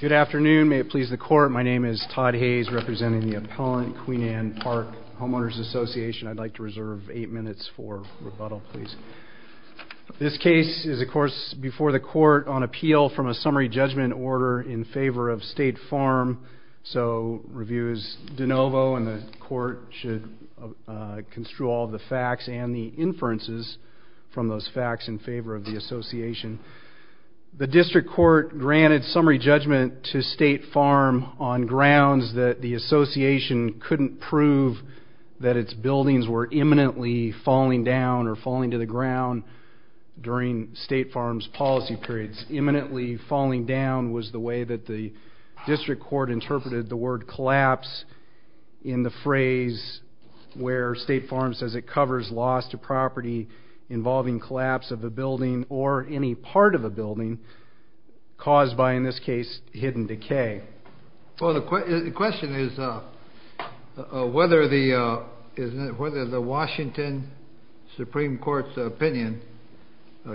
Good afternoon. May it please the court, my name is Todd Hayes representing the appellant Queen Anne Park Homeowners Association. I'd like to reserve 8 minutes for rebuttal, please. This case is of course before the court on appeal from a summary judgment order in favor of State Farm, so review is de novo and the court should construe all the facts and the summary judgment to State Farm on grounds that the association couldn't prove that its buildings were imminently falling down or falling to the ground during State Farm's policy periods. Imminently falling down was the way that the district court interpreted the word collapse in the phrase where State Farm says it covers loss to property involving collapse of a building or any part of a building caused by in this case hidden decay. Well the question is whether the Washington Supreme Court's opinion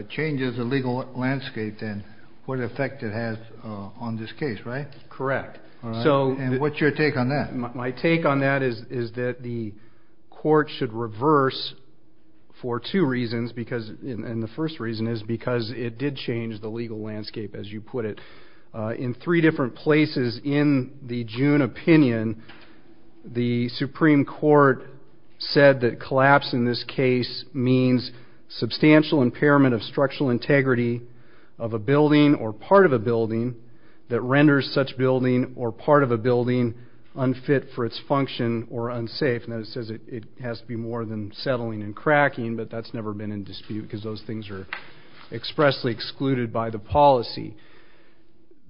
changes the legal landscape then what effect it has on this case, right? Correct. And what's your take on that? My take on that is that the court should reverse for two reasons because and the first reason is because it did change the legal landscape as you put it. In three different places in the June opinion the Supreme Court said that collapse in this case means substantial impairment of structural integrity of a building or part of a building that renders such building or part of a building unfit for its function or unsafe. Now it says it has to be more than settling and cracking but that's never been in dispute because those things are expressly excluded by the policy.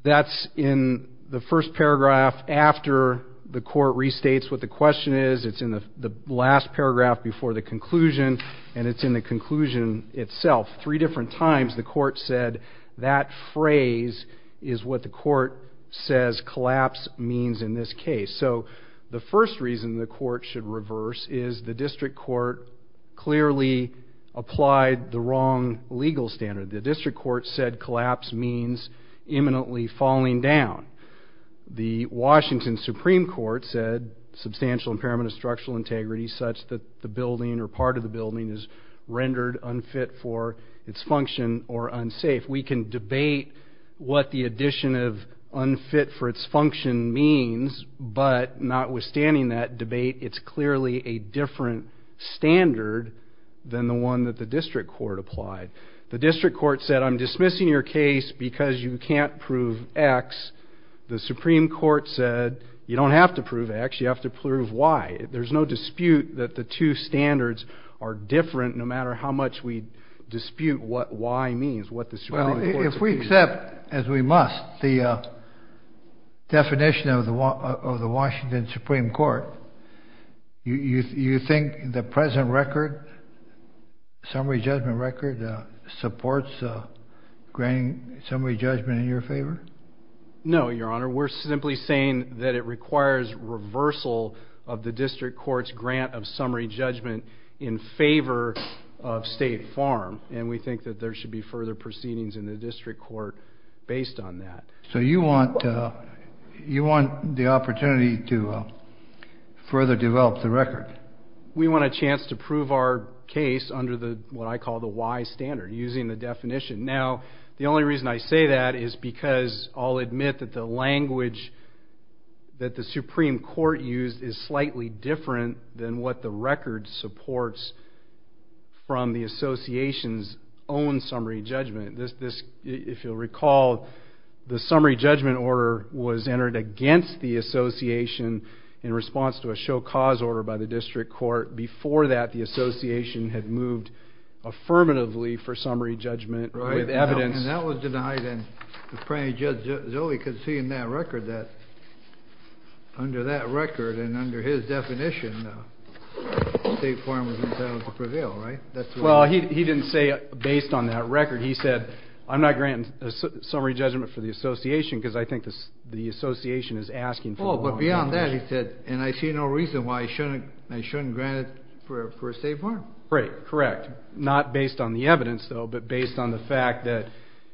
That's in the first paragraph after the court restates what the question is. It's in the last paragraph before the conclusion and it's in the conclusion itself. Three different times the court said that phrase is what the court says collapse means in this case. So the first reason the court should reverse is the district court clearly applied the wrong legal standard. The district court said collapse means imminently falling down. The Washington Supreme Court said substantial impairment of structural integrity such that the building or part of the building is rendered unfit for its function or unsafe. We can debate what the addition of unfit for its function means but notwithstanding that debate it's clearly a different standard than the one that the district court applied. The district court said I'm dismissing your case because you can't prove X. The Supreme Court said you don't have to prove X you have to prove Y. There's no dispute that the two standards are different no matter how much we dispute what Y means. If we accept as we must the definition of the Washington Supreme Court you think the present record summary judgment record supports granting summary judgment in your favor? No your honor we're simply saying that it requires reversal of the district court's grant of summary judgment in favor of State Farm and we think that there should be further proceedings in the district court based on that. So you want you want the opportunity to further develop the record? We want a chance to prove our case under the what I call the Y standard using the definition. Now the only reason I say that is because I'll admit that the Supreme Court used is slightly different than what the record supports from the association's own summary judgment. This if you'll recall the summary judgment order was entered against the association in response to a show cause order by the district court before that the association had moved affirmatively for summary judgment with evidence. And that was denied and the under that record and under his definition State Farm was entitled to prevail right? Well he didn't say based on that record he said I'm not granting a summary judgment for the association because I think this the association is asking for. Oh but beyond that he said and I see no reason why I shouldn't I shouldn't grant it for State Farm. Right correct not based on the evidence though but based on the fact that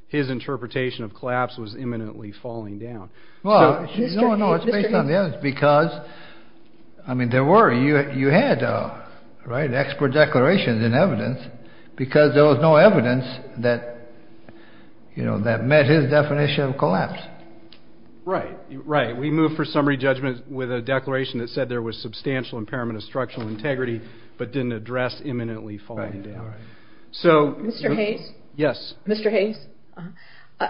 his interpretation of collapse was imminently falling down. Well no it's based on the evidence because I mean there were you you had right expert declarations in evidence because there was no evidence that you know that met his definition of collapse. Right right we moved for summary judgment with a declaration that said there was substantial impairment of structural integrity but didn't address imminently falling down. So Mr. Hayes. Yes. Mr. Hayes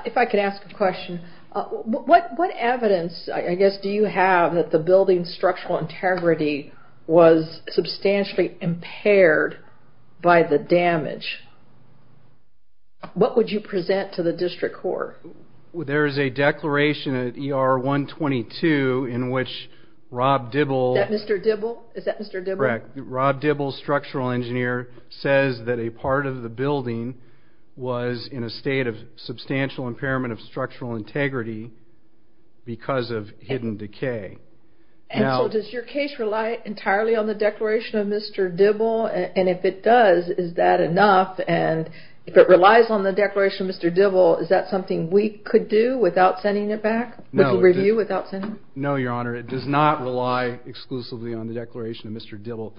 if I could ask a question. What what evidence I guess do you have that the building structural integrity was substantially impaired by the damage? What would you present to the district court? There is a declaration at ER 122 in which Rob Dibble. Is that Mr. Dibble? Is that Mr. Dibble? Correct. Rob Dibble structural engineer says that a part of the building was in a state of substantial impairment of structural integrity because of hidden decay. And so does your case rely entirely on the declaration of Mr. Dibble and if it does is that enough and if it relies on the declaration of Mr. Dibble is that something we could do without sending it back? No your honor it does not rely exclusively on the declaration of Mr. Dibble.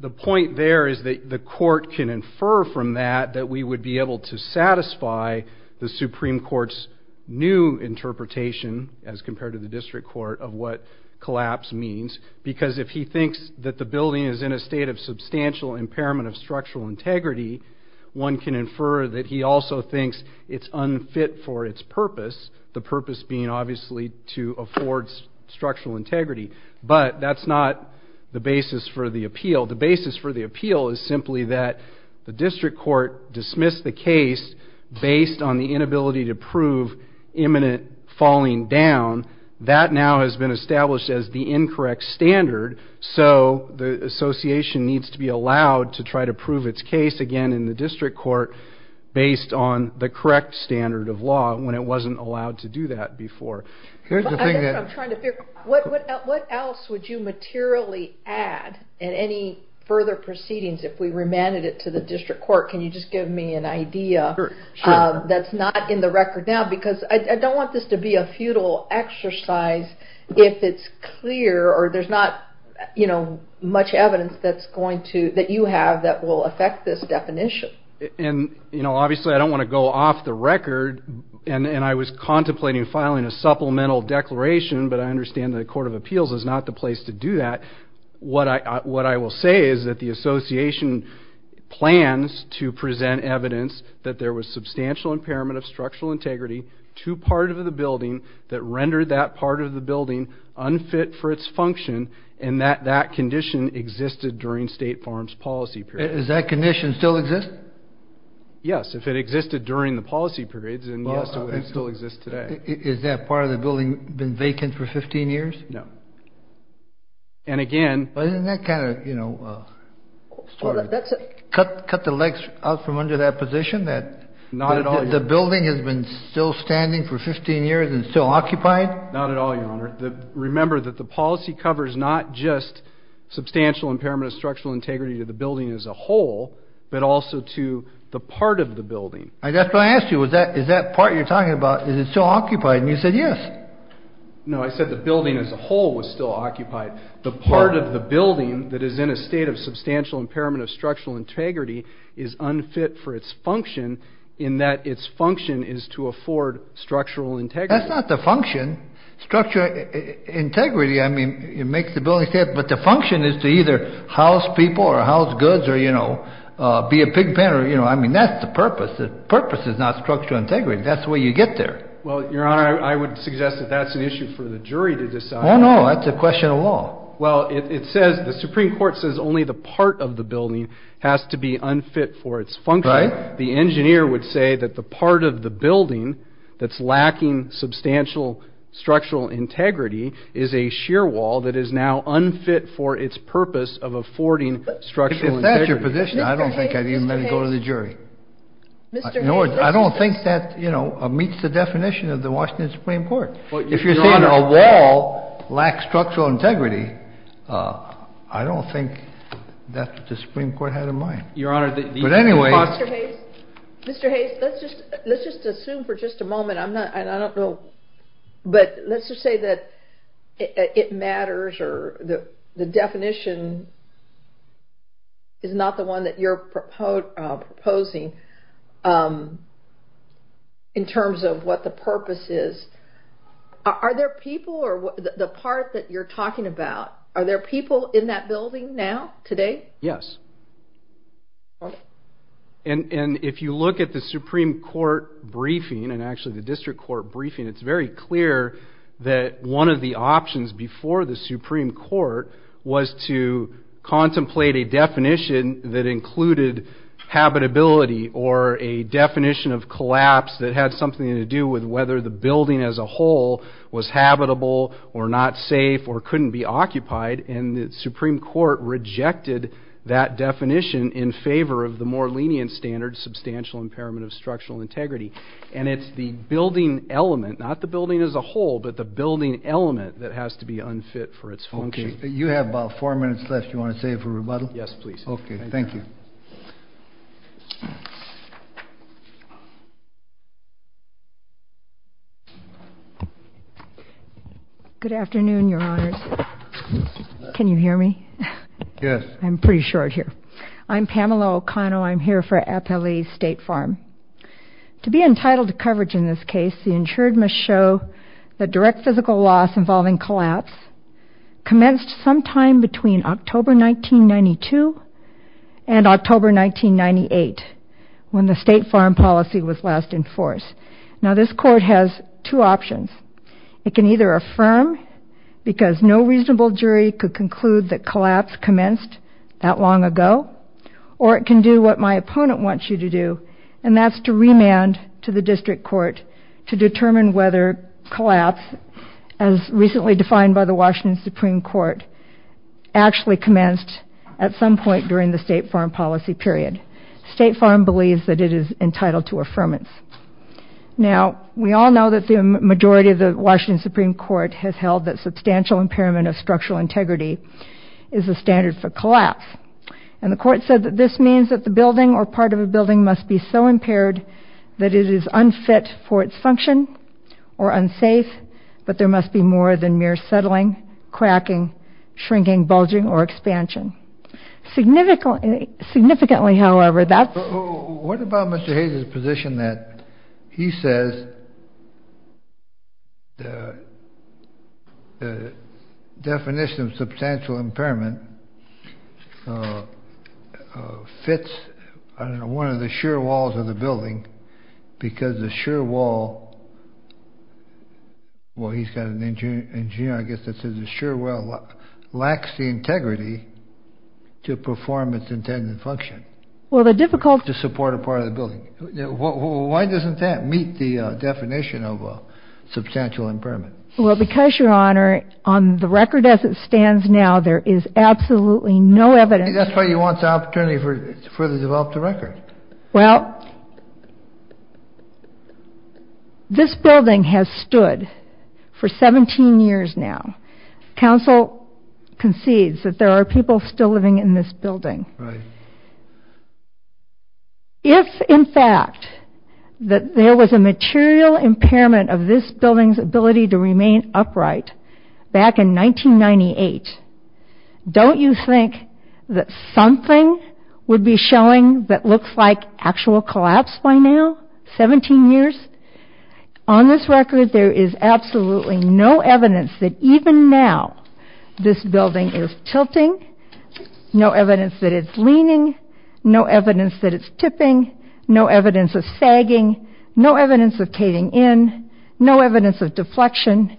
The point there is that the court can infer from that that we would be able to satisfy the Supreme Court's new interpretation as compared to the district court of what collapse means because if he thinks that the building is in a state of impairment then it is not even fit for its purpose. The purpose being obviously to afford structural integrity but that's not the basis for the appeal. The basis for the appeal is simply that the district court dismissed the case based on the inability to prove imminent falling down. That now has been established as the incorrect standard so the association needs to be allowed to try to prove its case again in the district court based on the correct standard of law when it wasn't allowed to do that before. What else would you materially add in any further proceedings if we remanded it to the district court can you just give me an idea that's not in the record now because I don't want this to be a futile exercise if it's clear or there's not much evidence that you have that will affect this definition. Obviously I don't want to go off the record and I was contemplating filing a supplemental declaration but I understand the court of appeals is not the place to do that. What I will say is that the association plans to approve it for its function and that that condition existed during State Farm's policy period. Does that condition still exist? Yes if it existed during the policy period then yes it still exists today. Is that part of the building been vacant for 15 years? No. And again. But isn't that kind of you know cut the legs out from under that position that the building has been still standing for 15 years and still occupied? Not at all your honor. Remember that the policy covers not just substantial impairment of structural integrity to the building as a whole but also to the part of the building. That's what I asked you is that part you're talking about is it still occupied and you said yes. No I said the building as a whole was still occupied. The part of the building that is in a state of substantial impairment of structural integrity is unfit for its function in that its function is to afford structural integrity. That's not the function. Structural integrity I mean it makes the building fit but the function is to either house people or house goods or you know be a pig pen or you know I mean that's the purpose. The purpose is not structural integrity. That's the way you get there. Well your honor I would suggest that that's an issue for the jury to decide. Oh no that's a question of law. Well it says the Supreme Court says only the part of the building has to be unfit for its function. Right. The engineer would say that the part of the building that's lacking substantial structural integrity is a shear wall that is now unfit for its purpose of affording structural integrity. If that's your position I don't think I'd even let it go to the jury. I don't think that you know meets the definition of the Washington Supreme Court. Well if you're saying a wall lacks structural integrity I don't think that the Supreme Court had a mind. Your honor but anyway. Mr. Hayes let's just let's just assume for just a moment I'm not I don't know but let's just say that it matters or the definition is not the one that you're proposing in terms of what the purpose is. Are there people or the part that you're talking about are there people in that building now today? Yes. And if you look at the Supreme Court briefing and actually the district court briefing it's very clear that one of the options before the Supreme Court was to contemplate a definition that included habitability or a definition of collapse that had something to do with whether the building as a whole was habitable or not safe or couldn't be occupied and the Supreme Court rejected that definition in favor of the more lenient standard substantial impairment of structural integrity and it's the building element not the building as a whole but the building element that has to be unfit for its function. You have about four minutes left you want to say for rebuttal? Yes please. Okay thank you. Good afternoon your honors. Can you hear me? Yes. I'm pretty short here. I'm Pamela O'Conno I'm here for Appalachia State Farm. To be entitled to coverage in this case the insured must show that direct physical loss involving collapse commenced sometime between October 1992 and October 1998 when the state farm policy was last in force. Now this court has two options it can either affirm because no reasonable jury could conclude that collapse commenced that long ago or it can do what my opponent wants you to do and that's to remand to the district court to determine whether collapse as recently defined by the Washington Supreme Court actually commenced at some point during the state farm policy period. State Farm believes that it is entitled to affirmance. Now we all know that the majority of the Washington Supreme Court has held that substantial impairment of structural integrity is a standard for collapse and the court said that this means that the building or part of a building must be so impaired that it is unfit for its function or unsafe but there must be more than mere settling, cracking, shrinking, bulging or expansion. Significantly however that's... To perform its intended function. Well the difficult... To support a part of the building. Why doesn't that meet the definition of a substantial impairment? Well because your honor on the record as it stands now there is absolutely no evidence... That's why you want the opportunity to further develop the record. Well this building has stood for 17 years now. Council concedes that there are people still living in this building. Right. If in fact that there was a material impairment of this building's ability to remain upright back in 1998, don't you think that something would be showing that looks like actual collapse by now? 17 years? On this record there is absolutely no evidence that even now this building is tilting, no evidence that it's leaning, no evidence that it's tipping, no evidence of sagging, no evidence of caving in, no evidence of deflection.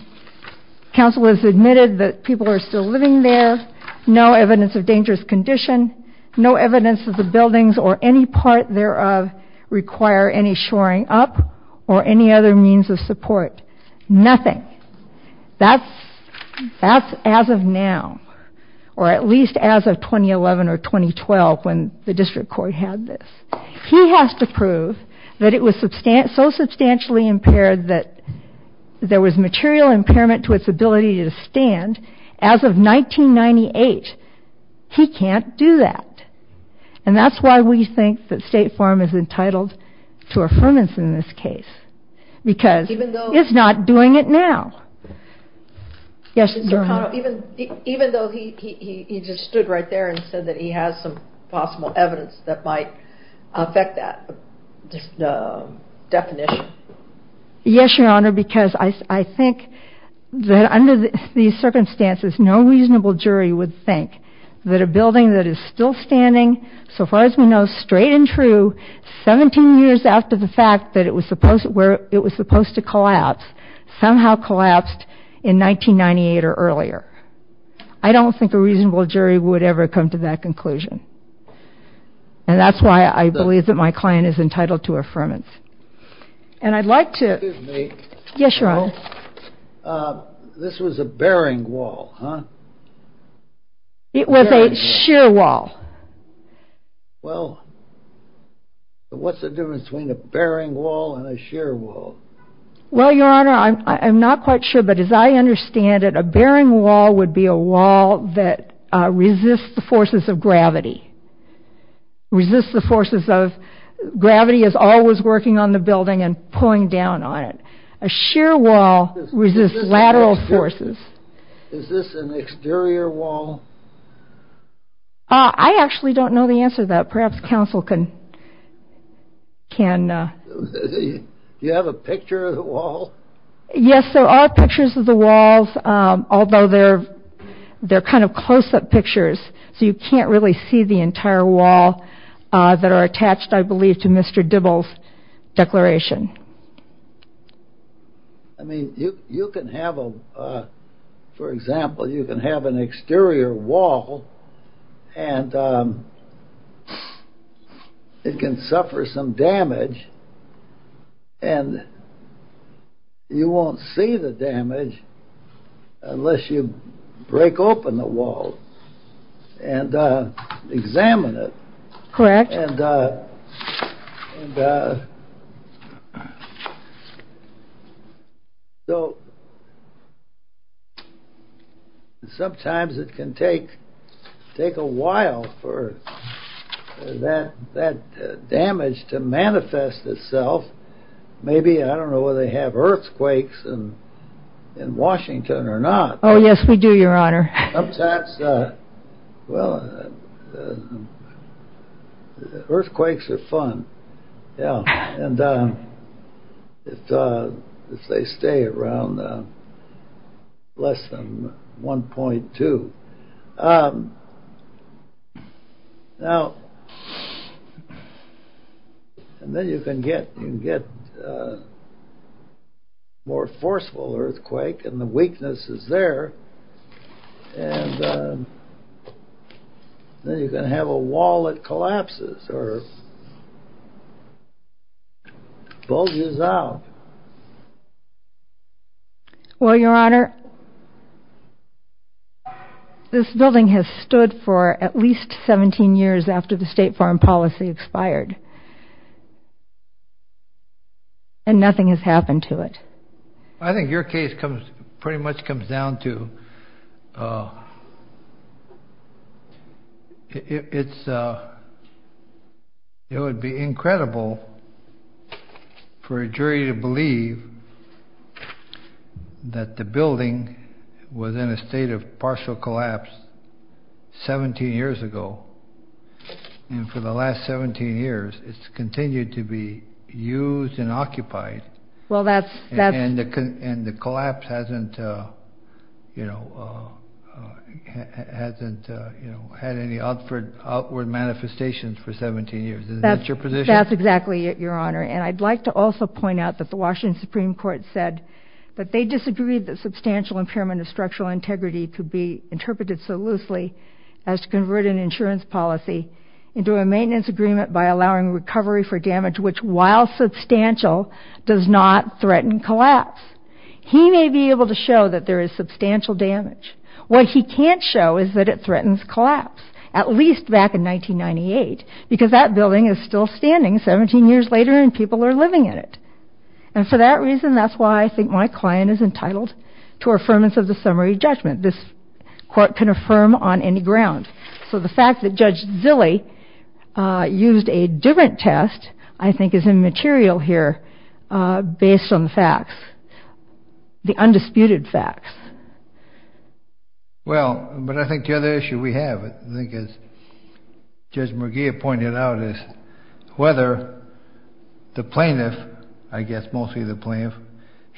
Council has admitted that people are still living there. No evidence of dangerous condition. No evidence that the buildings or any part thereof require any shoring up or any other means of support. Nothing. That's as of now. Or at least as of 2011 or 2012 when the district court had this. He has to prove that it was so substantially impaired that there was material impairment to its ability to stand as of 1998. He can't do that. And that's why we think that State Farm is entitled to affirmance in this case. Because it's not doing it now. Even though he just stood right there and said that he has some possible evidence that might affect that definition. Yes, Your Honor, because I think that under these circumstances no reasonable jury would think that a building that is still standing, so far as we know, straight and true, 17 years after the fact that it was supposed to collapse, somehow collapsed in 1998 or earlier. I don't think a reasonable jury would ever come to that conclusion. And that's why I believe that my client is entitled to affirmance. And I'd like to... Excuse me. Yes, Your Honor. This was a bearing wall, huh? It was a sheer wall. Well, what's the difference between a bearing wall and a sheer wall? Well, Your Honor, I'm not quite sure, but as I understand it, a bearing wall would be a wall that resists the forces of gravity. Resists the forces of... Gravity is always working on the building and pulling down on it. A sheer wall resists lateral forces. Is this an exterior wall? I actually don't know the answer to that. Perhaps counsel can... Do you have a picture of the wall? Yes, there are pictures of the walls, although they're kind of close-up pictures, so you can't really see the entire wall that are attached, I believe, to Mr. Dibble's declaration. I mean, you can have a... For example, you can have an exterior wall and it can suffer some damage, and you won't see the damage unless you break open the wall and examine it. Correct. And... So... Sometimes it can take a while for that damage to manifest itself. Maybe, I don't know whether they have earthquakes in Washington or not. Oh, yes, we do, Your Honor. Sometimes... Well... Earthquakes are fun. Yeah, and... If they stay around less than 1.2. Now... And then you can get more forceful earthquake and the weakness is there, and then you can have a wall that collapses or bulges out. Well, Your Honor, this building has stood for at least 17 years after the state foreign policy expired, and nothing has happened to it. I think your case pretty much comes down to... It's... It would be incredible for a jury to believe that the building was in a state of partial collapse 17 years ago, and for the last 17 years it's continued to be used and occupied... Well, that's... And the collapse hasn't had any outward manifestations for 17 years. Isn't that your position? That's exactly it, Your Honor. And I'd like to also point out that the Washington Supreme Court said that they disagreed that substantial impairment of structural integrity could be interpreted so loosely as to convert an insurance policy into a maintenance agreement by allowing recovery for damage, which, while substantial, does not threaten collapse. He may be able to show that there is substantial damage. What he can't show is that it threatens collapse, at least back in 1998, because that building is still standing 17 years later and people are living in it. And for that reason, that's why I think my client is entitled to affirmance of the summary judgment. This court can affirm on any ground. So the fact that Judge Zilley used a different test, I think, is immaterial here based on the facts, the undisputed facts. Well, but I think the other issue we have, I think, as Judge McGeeh pointed out, is whether the plaintiff, I guess mostly the plaintiff,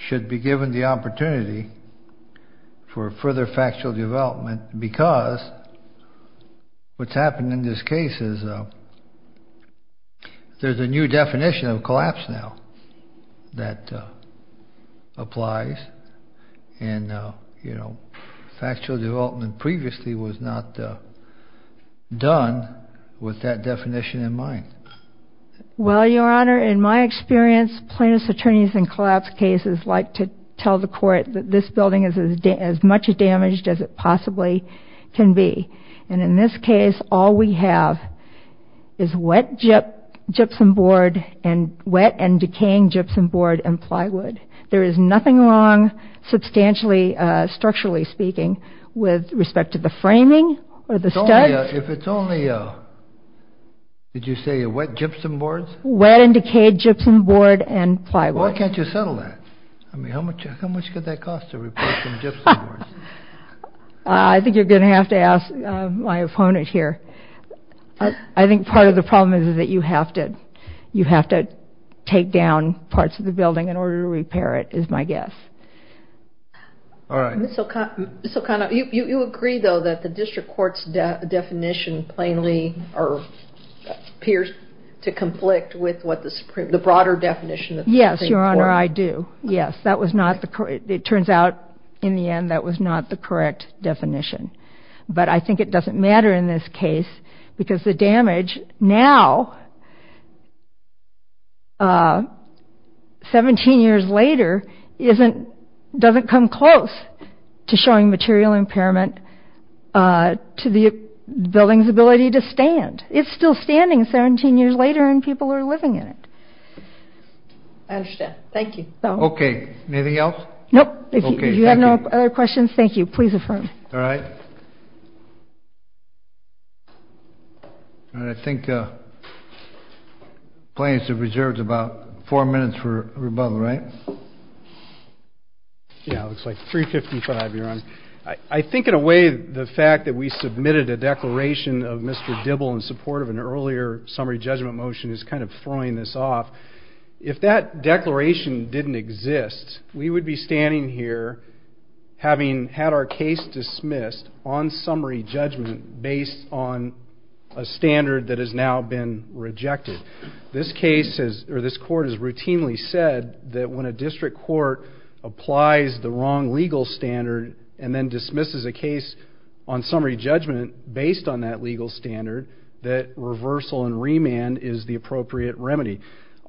should be given the opportunity for further factual development, because what's happened in this case is there's a new definition of collapse now that applies. And factual development previously was not done with that definition in mind. Well, Your Honor, in my experience, plaintiff's attorneys in collapse cases like to tell the court that this building is as much damaged as it possibly can be. And in this case, all we have is wet gypsum board and wet and decaying gypsum board and plywood. There is nothing wrong, substantially, structurally speaking, with respect to the framing or the studs. If it's only, did you say wet gypsum boards? Wet and decayed gypsum board and plywood. Why can't you settle that? I mean, how much could that cost to repair some gypsum boards? I think you're going to have to ask my opponent here. I think part of the problem is that you have to take down parts of the building in order to repair it, is my guess. All right. Ms. Sokano, you agree, though, that the district court's definition plainly appears to conflict with what the broader definition of the Supreme Court. Yes, Your Honor, I do. Yes, that was not the, it turns out in the end that was not the correct definition. But I think it doesn't matter in this case because the damage now, 17 years later, doesn't come close to showing material impairment to the building's ability to stand. It's still standing 17 years later and people are living in it. I understand. Thank you. Okay. Anything else? Nope. If you have no other questions, thank you. Please affirm. All right. I think plaintiffs have reserved about four minutes for rebuttal, right? Yeah, it looks like 355, Your Honor. I think in a way the fact that we submitted a declaration of Mr. Dibble in support of an earlier summary judgment motion is kind of throwing this off. If that declaration didn't exist, we would be standing here having had our case dismissed on summary judgment based on a standard that has now been rejected. This court has routinely said that when a district court applies the wrong legal standard and then dismisses a case on summary judgment based on that legal standard, that reversal and remand is the appropriate remedy.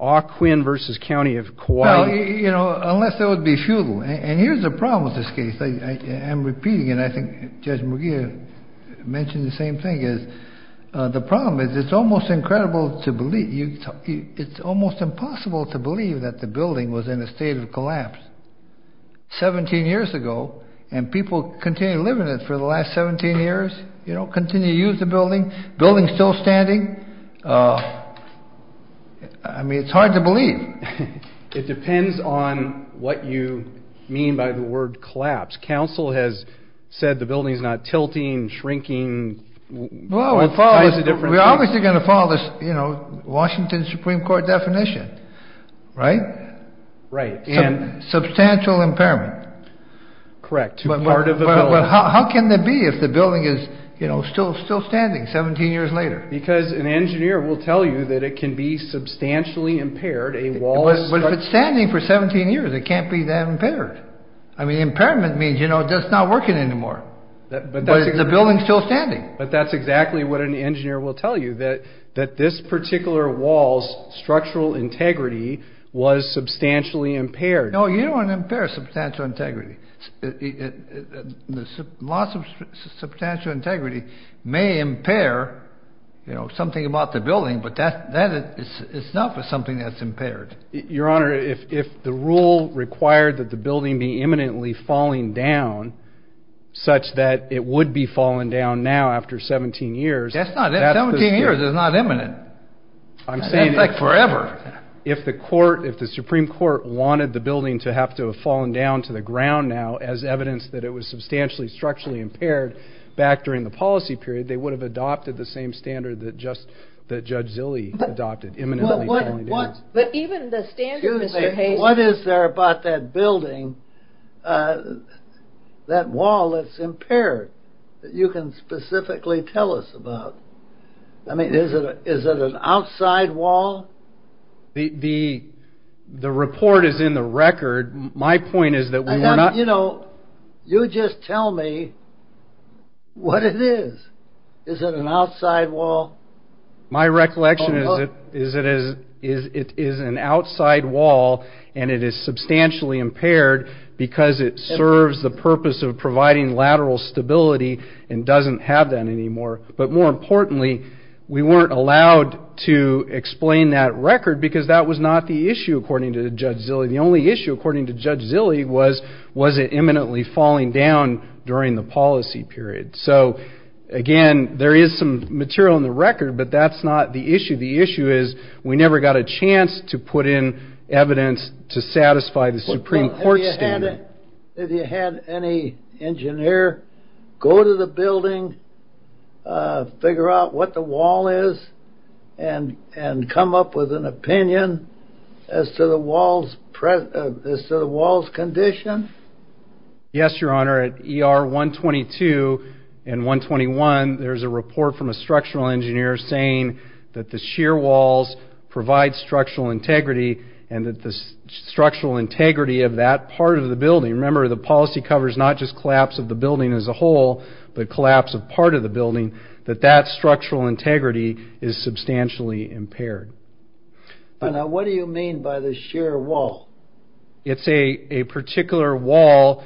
Ah Quinn v. County of Kauai. Well, you know, unless it would be futile. And here's the problem with this case. I am repeating, and I think Judge McGeer mentioned the same thing, is the problem is it's almost incredible to believe. It's almost impossible to believe that the building was in a state of collapse 17 years ago and people continue to live in it for the last 17 years, you know, continue to use the building, building still standing. I mean, it's hard to believe. It depends on what you mean by the word collapse. Council has said the building is not tilting, shrinking. Well, we're obviously going to follow this, you know, Washington Supreme Court definition, right? Right. Substantial impairment. Correct. How can that be if the building is still standing 17 years later? Because an engineer will tell you that it can be substantially impaired. But if it's standing for 17 years, it can't be that impaired. I mean, impairment means, you know, it's not working anymore. But the building's still standing. But that's exactly what an engineer will tell you, that this particular wall's structural integrity was substantially impaired. No, you don't want to impair substantial integrity. The loss of substantial integrity may impair, you know, something about the building, but that is not something that's impaired. Your Honor, if the rule required that the building be imminently falling down such that it would be falling down now after 17 years. That's not it. 17 years is not imminent. That's like forever. If the Supreme Court wanted the building to have to have fallen down to the ground now as evidence that it was substantially structurally impaired back during the policy period, they would have adopted the same standard that Judge Zille adopted, imminently falling down. But even the standard, Mr. Hazen. What is there about that building, that wall that's impaired, that you can specifically tell us about? I mean, is it an outside wall? The report is in the record. My point is that we were not... You know, you just tell me what it is. Is it an outside wall? My recollection is it is an outside wall, and it is substantially impaired because it serves the purpose of providing lateral stability and doesn't have that anymore. But more importantly, we weren't allowed to explain that record because that was not the issue, according to Judge Zille. The only issue, according to Judge Zille, was was it imminently falling down during the policy period. So, again, there is some material in the record, but that's not the issue. The issue is we never got a chance to put in evidence to satisfy the Supreme Court standard. Have you had any engineer go to the building, figure out what the wall is, and come up with an opinion as to the wall's condition? Yes, Your Honor. At ER 122 and 121, there's a report from a structural engineer saying that the sheer walls provide structural integrity and that the structural integrity of that part of the building, remember the policy covers not just collapse of the building as a whole, but collapse of part of the building, that that structural integrity is substantially impaired. What do you mean by the sheer wall? It's a particular wall,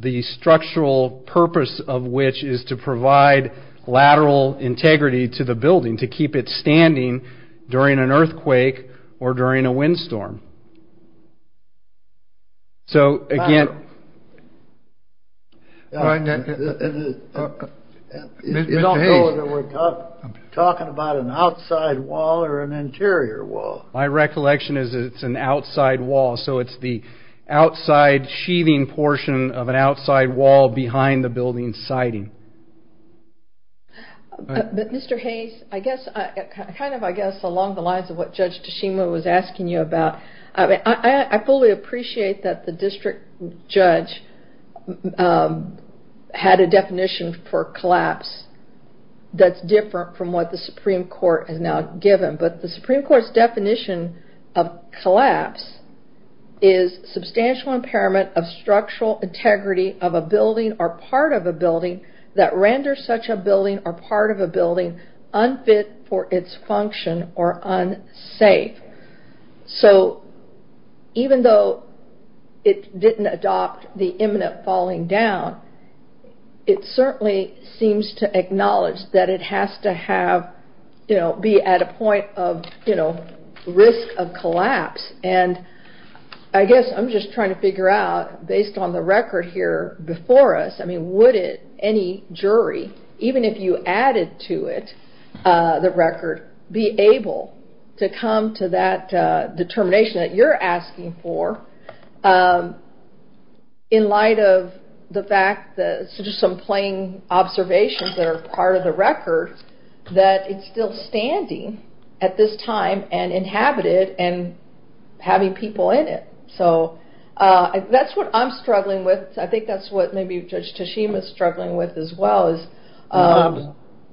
the structural purpose of which is to provide lateral integrity to the building, to keep it standing during an earthquake or during a windstorm. So, again... I don't know whether we're talking about an outside wall or an interior wall. My recollection is it's an outside wall, so it's the outside sheathing portion of an outside wall behind the building's siding. Mr. Hayes, I guess along the lines of what Judge Tashima was asking you about, I fully appreciate that the district judge had a definition for collapse that's different from what the Supreme Court has now given, but the Supreme Court's definition of collapse is substantial impairment of structural integrity of a building or part of a building that renders such a building or part of a building unfit for its function or unsafe. So, even though it didn't adopt the imminent falling down, it certainly seems to acknowledge that it has to be at a point of risk of collapse. I guess I'm just trying to figure out, based on the record here before us, would any jury, even if you added to it the record, be able to come to that determination that you're asking for in light of the fact, just some plain observations that are part of the record, that it's still standing at this time and inhabited and having people in it? So, that's what I'm struggling with. I think that's what maybe Judge Tashima is struggling with as well.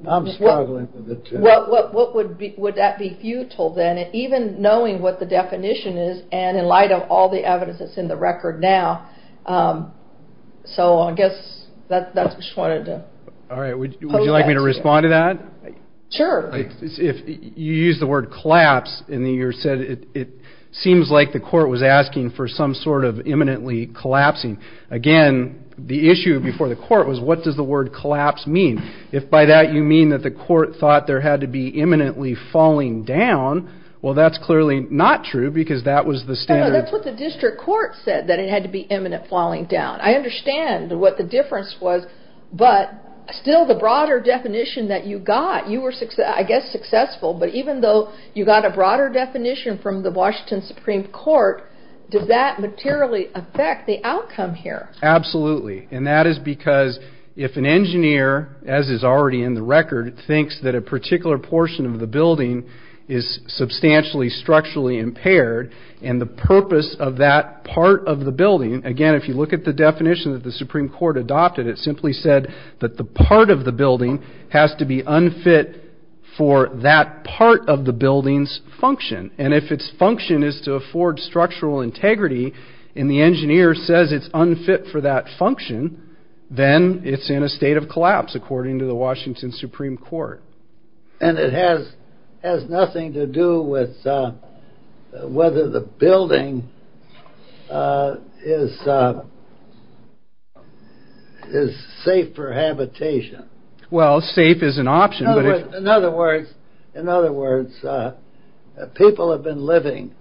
I'm struggling with it too. Would that be futile then, even knowing what the definition is and in light of all the evidence that's in the record now? Would you like me to respond to that? Sure. You used the word collapse and you said it seems like the court was asking for some sort of imminently collapsing. Again, the issue before the court was what does the word collapse mean? If by that you mean that the court thought there had to be imminently falling down, well, that's clearly not true because that was the standard. That's what the district court said, that it had to be imminent falling down. I understand what the difference was, but still the broader definition that you got, I guess successful, but even though you got a broader definition from the Washington Supreme Court, does that materially affect the outcome here? Absolutely, and that is because if an engineer, as is already in the record, thinks that a particular portion of the building is substantially structurally impaired and the purpose of that part of the building, again, if you look at the definition that the Supreme Court adopted, it simply said that the part of the building has to be unfit for that part of the building's function. And if its function is to afford structural integrity and the engineer says it's unfit for that function, then it's in a state of collapse, according to the Washington Supreme Court. And it has nothing to do with whether the building is safe for habitation. Well, safe is an option. In other words, people have been living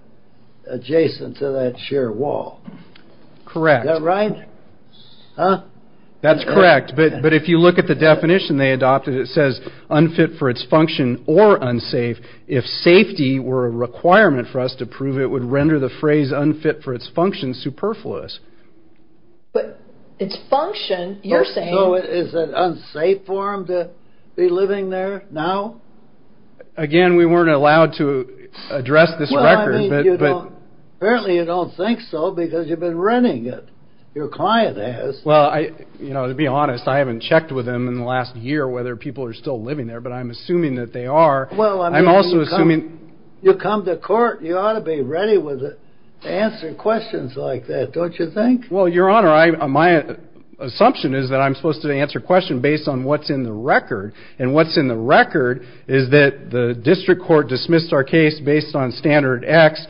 adjacent to that sheer wall. Correct. Is that right? That's correct, but if you look at the definition they adopted, it says unfit for its function or unsafe if safety were a requirement for us to prove it would render the phrase unfit for its function superfluous. But its function, you're saying... So is it unsafe for them to be living there now? Again, we weren't allowed to address this record, but... Well, I mean, apparently you don't think so because you've been renting it. Your client has. Well, to be honest, I haven't checked with them in the last year whether people are still living there, but I'm assuming that they are. I'm also assuming... You come to court, you ought to be ready to answer questions like that, don't you think? Well, Your Honor, my assumption is that I'm supposed to answer questions based on what's in the record. And what's in the record is that the district court dismissed our case based on standard X.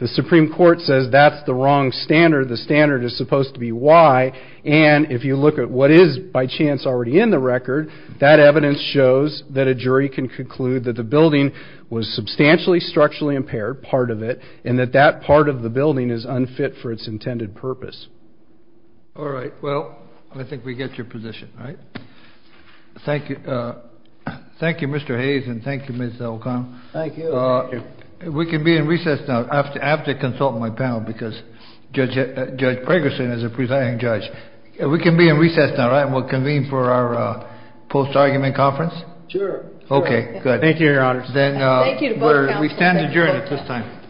The Supreme Court says that's the wrong standard. The standard is supposed to be Y. And if you look at what is by chance already in the record, that evidence shows that a jury can conclude that the building was substantially structurally impaired, part of it, and that that part of the building is unfit for its intended purpose. All right. Well, I think we get your position, right? Thank you. Thank you, Mr. Hayes, and thank you, Ms. O'Connell. Thank you. We can be in recess now. I have to consult my panel because Judge Pregerson is a presiding judge. We can be in recess now, right, and we'll convene for our post-argument conference? Sure. Okay, good. Thank you, Your Honor. Thank you to both counsels. We stand adjourned at this time.